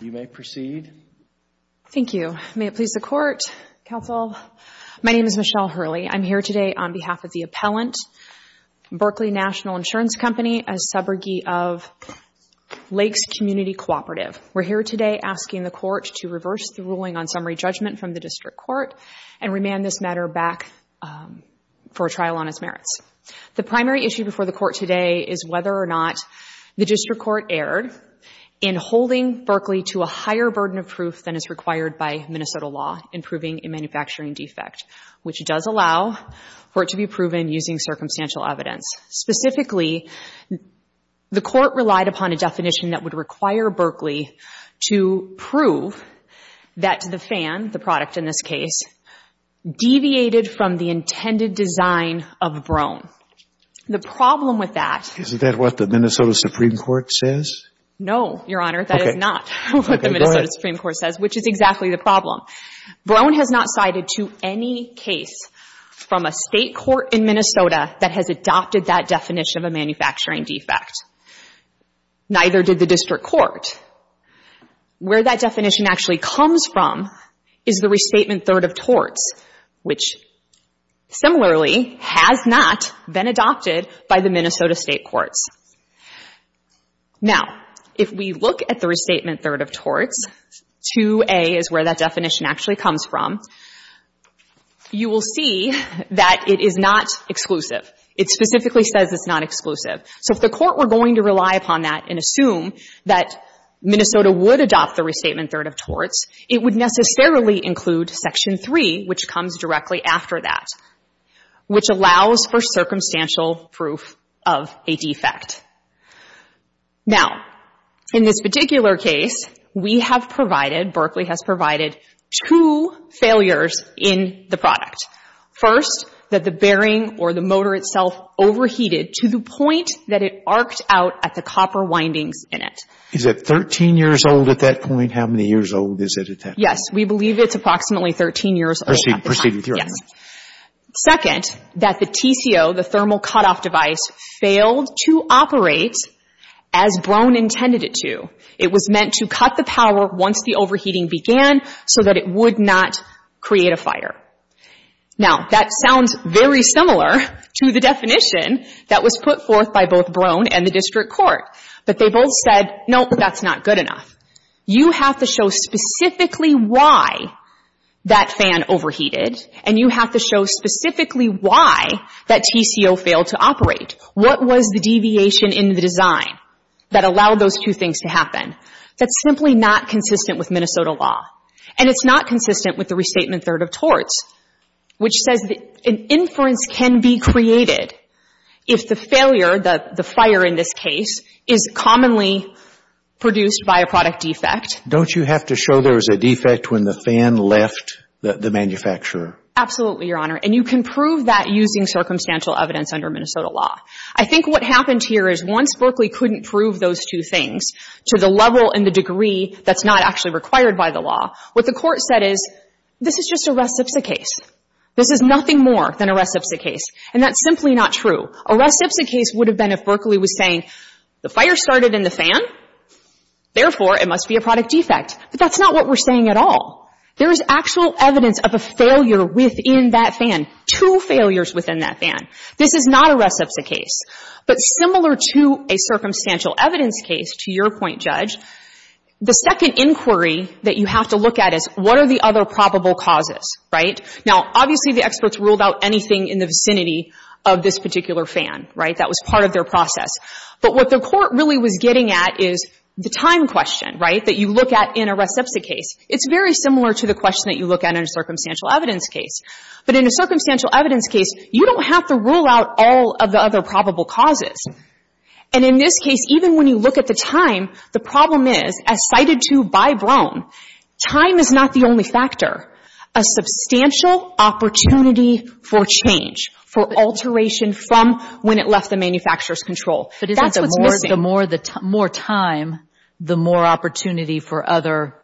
You may proceed. Thank you. May it please the Court, Counsel. My name is Michelle Hurley. I'm here today on behalf of the appellant, Berkley National Insurance Company, a subrogate of Lakes Community Cooperative. We're here today asking the Court to reverse the ruling on summary judgment from the District Court and remand this matter back for a trial on its merits. The primary issue before the Court today is whether or not the District Court erred in holding Berkley to a higher burden of proof than is required by Minnesota law in proving a manufacturing defect, which does allow for it to be proven using circumstantial evidence. Specifically, the Court relied upon a definition that would require Berkley to prove that the fan, the product in this case, deviated from the intended design of Broan. The problem with that Is that what the Minnesota Supreme Court says? No, Your Honor. That is not what the Minnesota Supreme Court says, which is exactly the problem. Broan has not cited to any case from a state court in Minnesota that has adopted that definition of a manufacturing defect. Neither did the District Court. Where that definition actually comes from is the restatement third of torts, which similarly has not been adopted by the Minnesota state courts. Now, if we look at the restatement third of torts, 2A is where that definition actually comes from. You will see that it is not exclusive. It specifically says it's not exclusive. So if the Court were going to rely upon that and assume that Minnesota would adopt the restatement third of torts, it would necessarily include Section 3, which comes directly after that, which allows for circumstantial proof of a defect. Now, in this particular case, we have provided, Berkley has provided, two failures in the product. First, that the bearing or the motor itself overheated to the point that it arced out at the copper windings in it. Is it 13 years old at that point? How many years old is it at that point? Yes. We believe it's approximately 13 years old at the time. Proceed with your argument. Yes. Second, that the TCO, the thermal cutoff device, failed to operate as Brohn intended it to. It was meant to cut the power once the overheating began so that it would not create a fire. Now, that sounds very similar to the definition that was put forth by both Brohn and the district court. But they both said, nope, that's not good enough. You have to show specifically why that fan overheated, and you have to show specifically why that TCO failed to operate. What was the deviation in the design that allowed those two things to happen? That's simply not consistent with Minnesota law. And it's not consistent with the Restatement 3rd of Torts, which says that an inference can be created if the failure, the fire in this case, is commonly produced by a product defect. Don't you have to show there was a defect when the fan left the manufacturer? Absolutely, Your Honor. And you can prove that using circumstantial evidence under Minnesota law. I think what happened here is once Berkeley couldn't prove those two things to the level and the degree that's not actually required by the law, what the court said is, this is just a reciprocate case. This is nothing more than a reciprocate case. And that's simply not true. A reciprocate case would have been if Berkeley was saying, the fire started in the fan, therefore, it must be a product defect. But that's not what we're saying at all. There is actual evidence of a failure within that fan, two failures within that fan. This is not a reciprocate case. But similar to a circumstantial evidence case, to your point, Judge, the second inquiry that you have to look at is, what are the other probable causes, right? Now, obviously, the experts ruled out anything in the vicinity of this particular fan, right? That was part of their process. But what the court really was getting at is the time question, right, that you look at in a reciprocate case. It's very similar to the question that you look at in a circumstantial evidence case. But in a circumstantial evidence case, you don't have to rule out all of the other probable causes. And in this case, even when you look at the time, the problem is, as cited to by Brown, time is not the only factor. A substantial opportunity for change, for alteration from when it left the manufacturer's control. That's what's missing. But isn't the more time, the more opportunity for other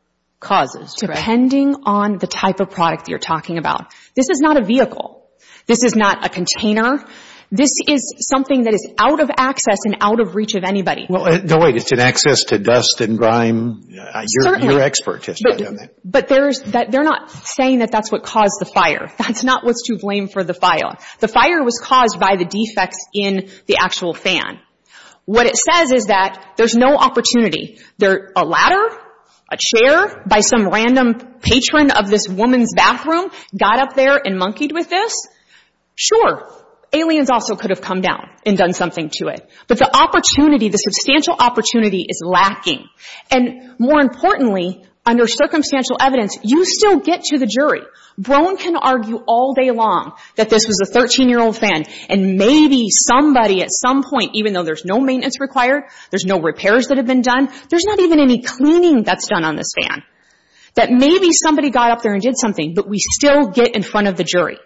causes, right? Depending on the type of product that you're talking about. This is not a vehicle. This is not a container. This is something that is out of access and out of reach of anybody. No, wait. It's an access to dust and grime? Certainly. You're an expert. But they're not saying that that's what caused the fire. That's not what's to blame for the fire. The fire was caused by the defects in the actual fan. What it says is that there's no opportunity. A ladder, a chair by some random patron of this woman's bathroom got up there and monkeyed with this? Sure. Aliens also could have come down and done something to it. But the opportunity, the substantial opportunity is lacking. And more importantly, under circumstantial evidence, you still get to the jury. Broen can argue all day long that this was a 13-year-old fan. And maybe somebody at some point, even though there's no maintenance required, there's no repairs that have been done, there's not even any cleaning that's done on this fan. That maybe somebody got up there and did something, but we still get in front of the jury.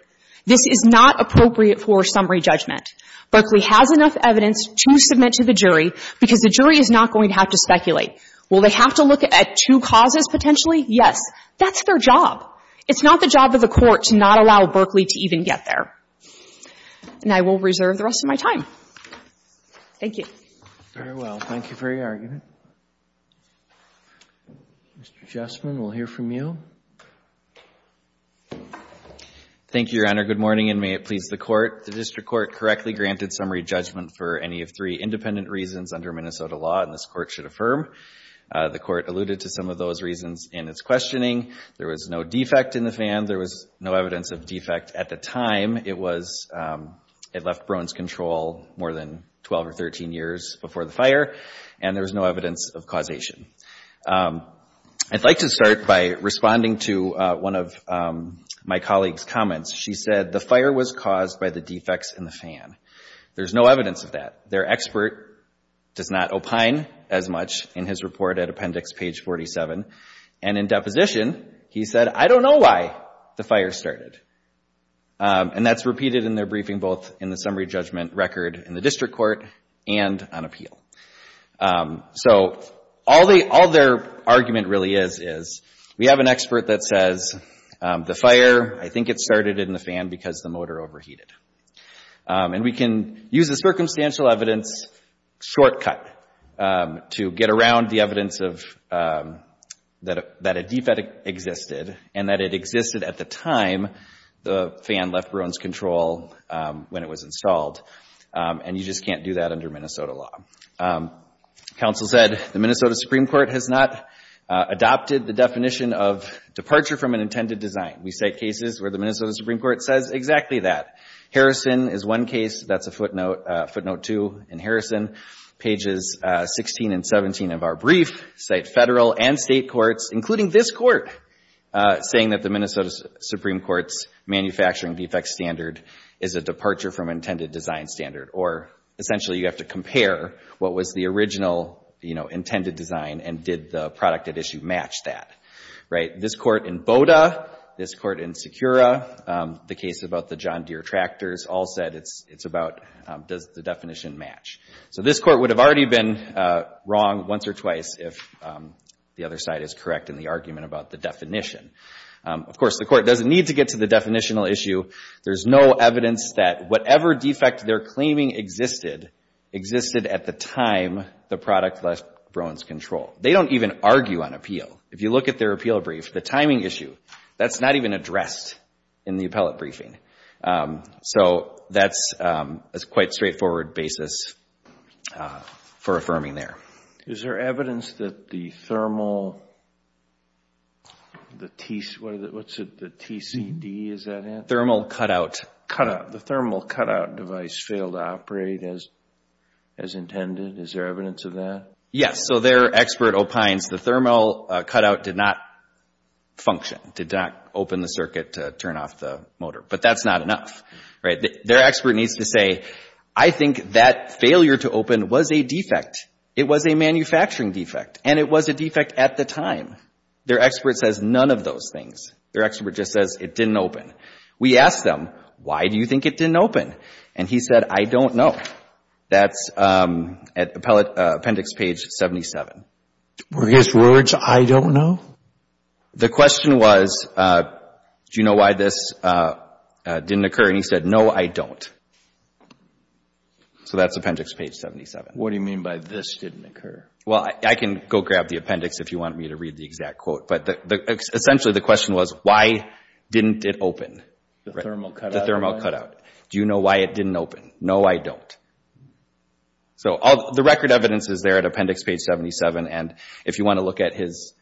This is not appropriate for summary judgment. Berkeley has enough evidence to submit to the jury because the jury is not going to have to speculate. Will they have to look at two causes potentially? Yes. That's their job. It's not the job of the court to not allow Berkeley to even get there. And I will reserve the rest of my time. Thank you. Very well. Thank you for your argument. Mr. Jessman, we'll hear from you. Thank you, Your Honor. Good morning, and may it please the Court. The district court correctly granted summary judgment for any of three independent reasons under Minnesota law, and this Court should affirm. The Court alluded to some of those reasons in its questioning. There was no defect in the fan. There was no evidence of defect at the time. It was, it left Brown's control more than 12 or 13 years before the fire, and there was no evidence of causation. I'd like to start by responding to one of my colleague's comments. She said, the fire was caused by the defects in the fan. There's no evidence of that. Their expert does not opine as much in his report at Appendix page 47. And in deposition, he said, I don't know why the fire started. And that's repeated in their briefing both in the summary judgment record in the district court and on appeal. So all their argument really is, is we have an expert that says, the fire, I think it started in the fan because the motor overheated. And we can use the circumstantial evidence shortcut to get around the evidence of, that a defect existed and that it existed at the time the fan left Brown's control when it was installed, and you just can't do that under Minnesota law. Counsel said, the Minnesota Supreme Court has not adopted the definition of departure from an intended design. We cite cases where the Minnesota Supreme Court says exactly that. Harrison is one case. That's a footnote, footnote two in Harrison. Pages 16 and 17 of our brief cite federal and state courts, including this court, saying that the Minnesota Supreme Court's manufacturing defect standard is a departure from intended design standard. Or essentially, you have to compare what was the original intended design and did the product at issue match that. This court in Boda, this court in Secura, the case about the John Deere tractors, all said it's about, does the definition match? So this court would have already been wrong once or twice if the other side is correct in the argument about the definition. Of course, the court doesn't need to get to the definitional issue. There's no evidence that whatever defect they're claiming existed, existed at the time the product left Brown's control. They don't even argue on appeal. If you look at their appeal brief, the timing issue, that's not even addressed in the appellate briefing. So that's a quite straightforward basis for affirming there. Is there evidence that the thermal, what's it, the TCD, is that it? Thermal cutout. Cutout. The thermal cutout device failed to operate as intended. Is there evidence of that? Yes. So their expert opines the thermal cutout did not function, did not open the circuit to turn off the motor. But that's not enough, right? Their expert needs to say, I think that failure to open was a defect. It was a manufacturing defect and it was a defect at the time. Their expert says none of those things. Their expert just says it didn't open. We asked them, why do you think it didn't open? And he said, I don't know. That's at appellate appendix page 77. Were his words, I don't know? The question was, do you know why this didn't occur? And he said, no, I don't. So that's appendix page 77. What do you mean by this didn't occur? Well, I can go grab the appendix if you want me to read the exact quote. But essentially the question was, why didn't it open? The thermal cutout. The thermal cutout. Do you know why it didn't open? No, I don't. So the record evidence is there at appendix page 77. And if you want to look at his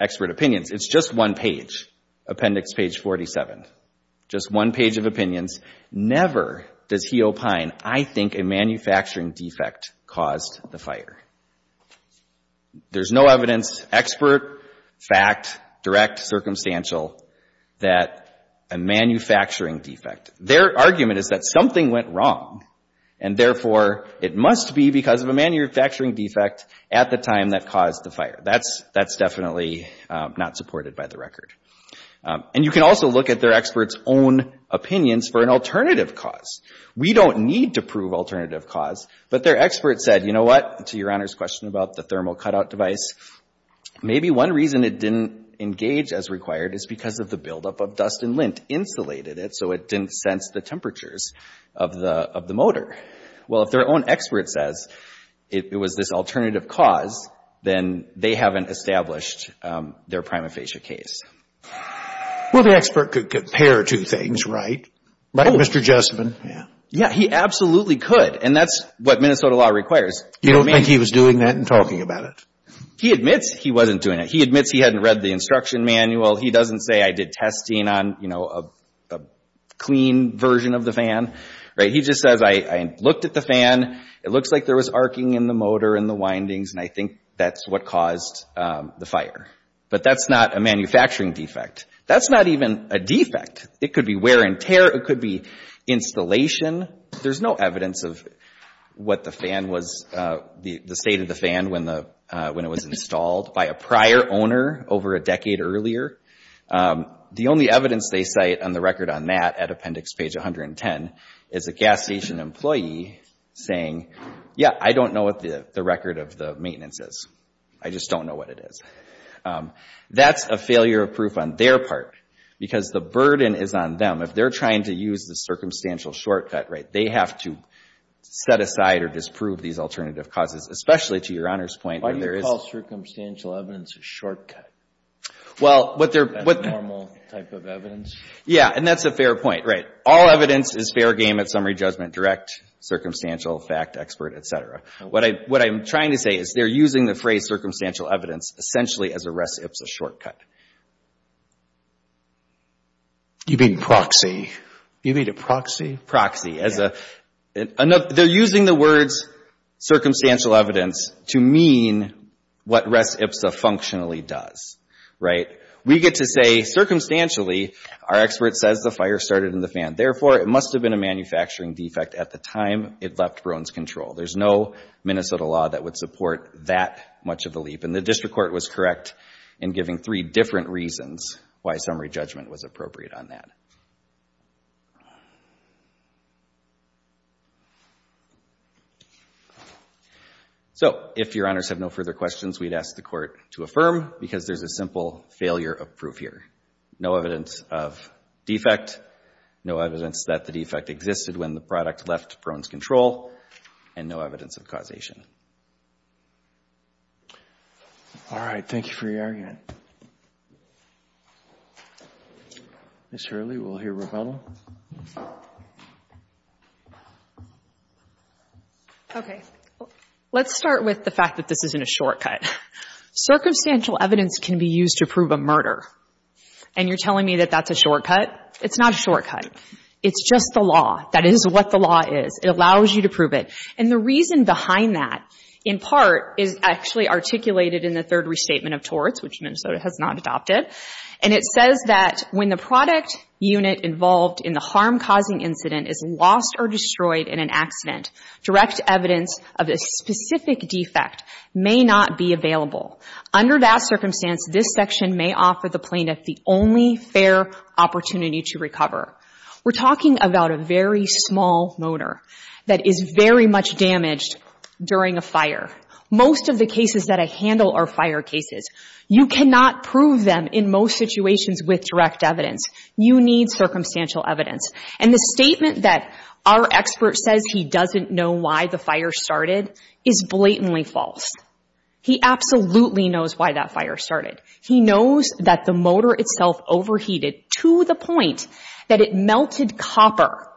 expert opinions, it's just one page, appendix page 47. Just one page of opinions. Never does he opine, I think a manufacturing defect caused the fire. There's no evidence, expert, fact, direct, circumstantial, that a manufacturing defect. Their argument is that something went wrong. And therefore, it must be because of a manufacturing defect at the time that caused the fire. That's definitely not supported by the record. And you can also look at their experts' own opinions for an alternative cause. We don't need to prove alternative cause. But their expert said, you know what? To Your Honor's question about the thermal cutout device, maybe one reason it didn't engage as required is because of the buildup of dust and lint insulated it. So it didn't sense the temperatures of the motor. Well, if their own expert says it was this alternative cause, then they haven't established their prima facie case. Well, the expert could compare two things, right? Right, Mr. Jessupan? Yeah, he absolutely could. And that's what Minnesota law requires. You don't think he was doing that and talking about it? He admits he wasn't doing it. He admits he hadn't read the instruction manual. He doesn't say, I did testing on a clean version of the fan. He just says, I looked at the fan. It looks like there was arcing in the motor and the windings. And I think that's what caused the fire. But that's not a manufacturing defect. That's not even a defect. It could be wear and tear. It could be installation. There's no evidence of what the state of the fan when it was installed by a prior owner over a decade earlier. The only evidence they cite on the record on that at appendix page 110 is a gas station employee saying, yeah, I don't know what the record of the maintenance is. I just don't know what it is. That's a failure of proof on their part because the burden is on them. If they're trying to use the circumstantial shortcut, they have to set aside or disprove these alternative causes, especially to Your Honor's point where there is. Why do you call circumstantial evidence a shortcut? Well, what they're. Is that a normal type of evidence? Yeah, and that's a fair point, right. All evidence is fair game at summary judgment, direct, circumstantial, fact, expert, et cetera. What I'm trying to say is they're using the phrase circumstantial evidence essentially as a res ipsa shortcut. You mean proxy? You mean a proxy? They're using the words circumstantial evidence to mean what res ipsa functionally does, right. We get to say, circumstantially, our expert says the fire started in the fan. Therefore, it must have been a manufacturing defect at the time it left Brown's control. There's no Minnesota law that would support that much of the leap. And the district court was correct in giving three different reasons why summary judgment was appropriate on that. So if your honors have no further questions, we'd ask the court to affirm, because there's a simple failure of proof here. No evidence of defect, no evidence that the defect existed when the product left Brown's control, and no evidence of causation. All right, thank you for your argument. Ms. Hurley, we'll hear rebuttal. OK, let's start with the fact that this isn't a shortcut. Circumstantial evidence can be used to prove a murder. And you're telling me that that's a shortcut? It's not a shortcut. It's just the law. That is what the law is. It allows you to prove it. And the reason behind that, in part, is actually articulated in the third restatement of torts, which Minnesota has not adopted. And it says that when the product unit involved in the harm-causing incident is lost or destroyed in an accident, direct evidence of a specific defect may not be available. Under that circumstance, this section may offer the plaintiff the only fair opportunity to recover. We're talking about a very small motor that is very much damaged during a fire. Most of the cases that I handle are fire cases. You cannot prove them in most situations with direct evidence. You need circumstantial evidence. And the statement that our expert says he doesn't know why the fire started is blatantly false. He absolutely knows why that fire started. He knows that the motor itself overheated to the point that it melted copper,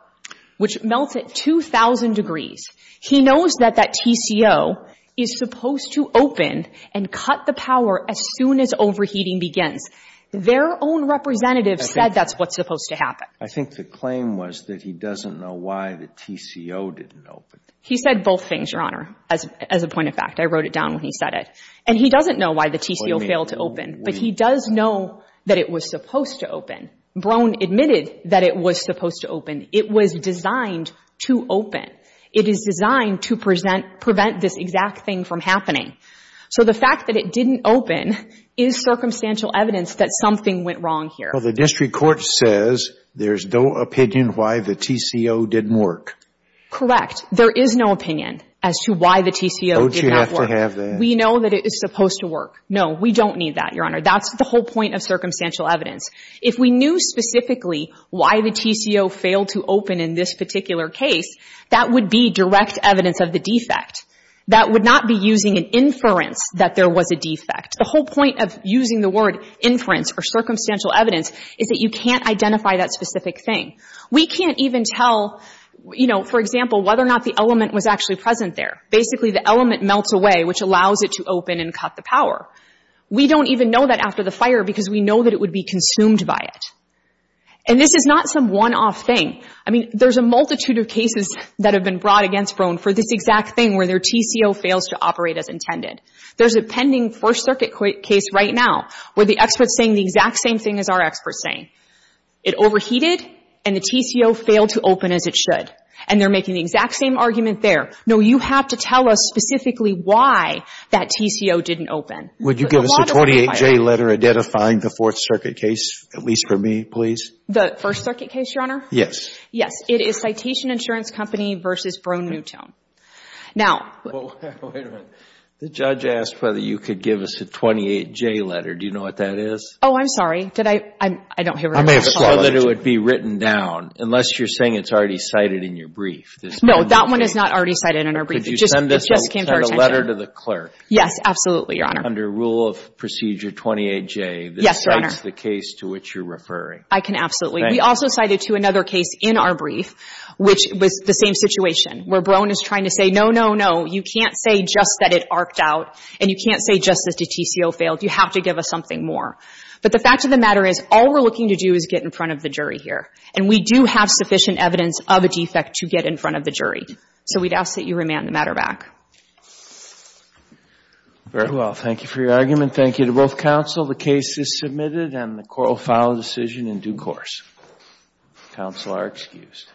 which melts at 2,000 degrees. He knows that that TCO is supposed to open and cut the power as soon as overheating begins. Their own representative said that's what's supposed to happen. I think the claim was that he doesn't know why the TCO didn't open. He said both things, Your Honor, as a point of fact. I wrote it down when he said it. And he doesn't know why the TCO failed to open. But he does know that it was supposed to open. Brown admitted that it was supposed to open. It was designed to open. It is designed to prevent this exact thing from happening. So the fact that it didn't open is circumstantial evidence that something went wrong here. Well, the district court says there's no opinion why the TCO didn't work. There is no opinion as to why the TCO did not work. Don't you have to have that? We know that it is supposed to work. No, we don't need that, Your Honor. That's the whole point of circumstantial evidence. If we knew specifically why the TCO failed to open in this particular case, that would be direct evidence of the defect. That would not be using an inference that there was a defect. The whole point of using the word inference or circumstantial evidence is that you can't identify that specific thing. We can't even tell, you know, for example, whether or not the element was actually present there. Basically, the element melts away, which allows it to open and cut the power. We don't even know that after the fire, because we know that it would be consumed by it. And this is not some one-off thing. I mean, there's a multitude of cases that have been brought against Brown for this exact thing, where their TCO fails to operate as intended. There's a pending First Circuit case right now, where the expert's saying the exact same thing as our expert's saying. It overheated, and the TCO failed to open as it should. And they're making the exact same argument there. No, you have to tell us specifically why that TCO didn't open. Would you give us a 28-J letter identifying the Fourth Circuit case, at least for me, please? The First Circuit case, Your Honor? Yes. Yes. It is Citation Insurance Company versus Brown-Newton. Now, wait a minute. The judge asked whether you could give us a 28-J letter. Do you know what that is? Oh, I'm sorry. Did I? I don't hear what you're saying. I may have said that it would be written down, unless you're saying it's already cited in your brief. No, that one is not already cited in our brief. It just came to our attention. Could you send a letter to the clerk? Yes, absolutely, Your Honor. Under Rule of Procedure 28-J, that cites the case to which you're referring. I can absolutely. We also cited to another case in our brief, which was the same situation, where Bohn is trying to say, no, no, no. You can't say just that it arced out. And you can't say just that the TCO failed. You have to give us something more. But the fact of the matter is, all we're looking to do is get in front of the jury here. And we do have sufficient evidence of a defect to get in front of the jury. So we'd ask that you remand the matter back. Very well. Thank you for your argument. Thank you to both counsel. The case is submitted, and the court will file a decision in due course. Counsel are excused.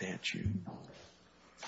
Thank you. With the statue.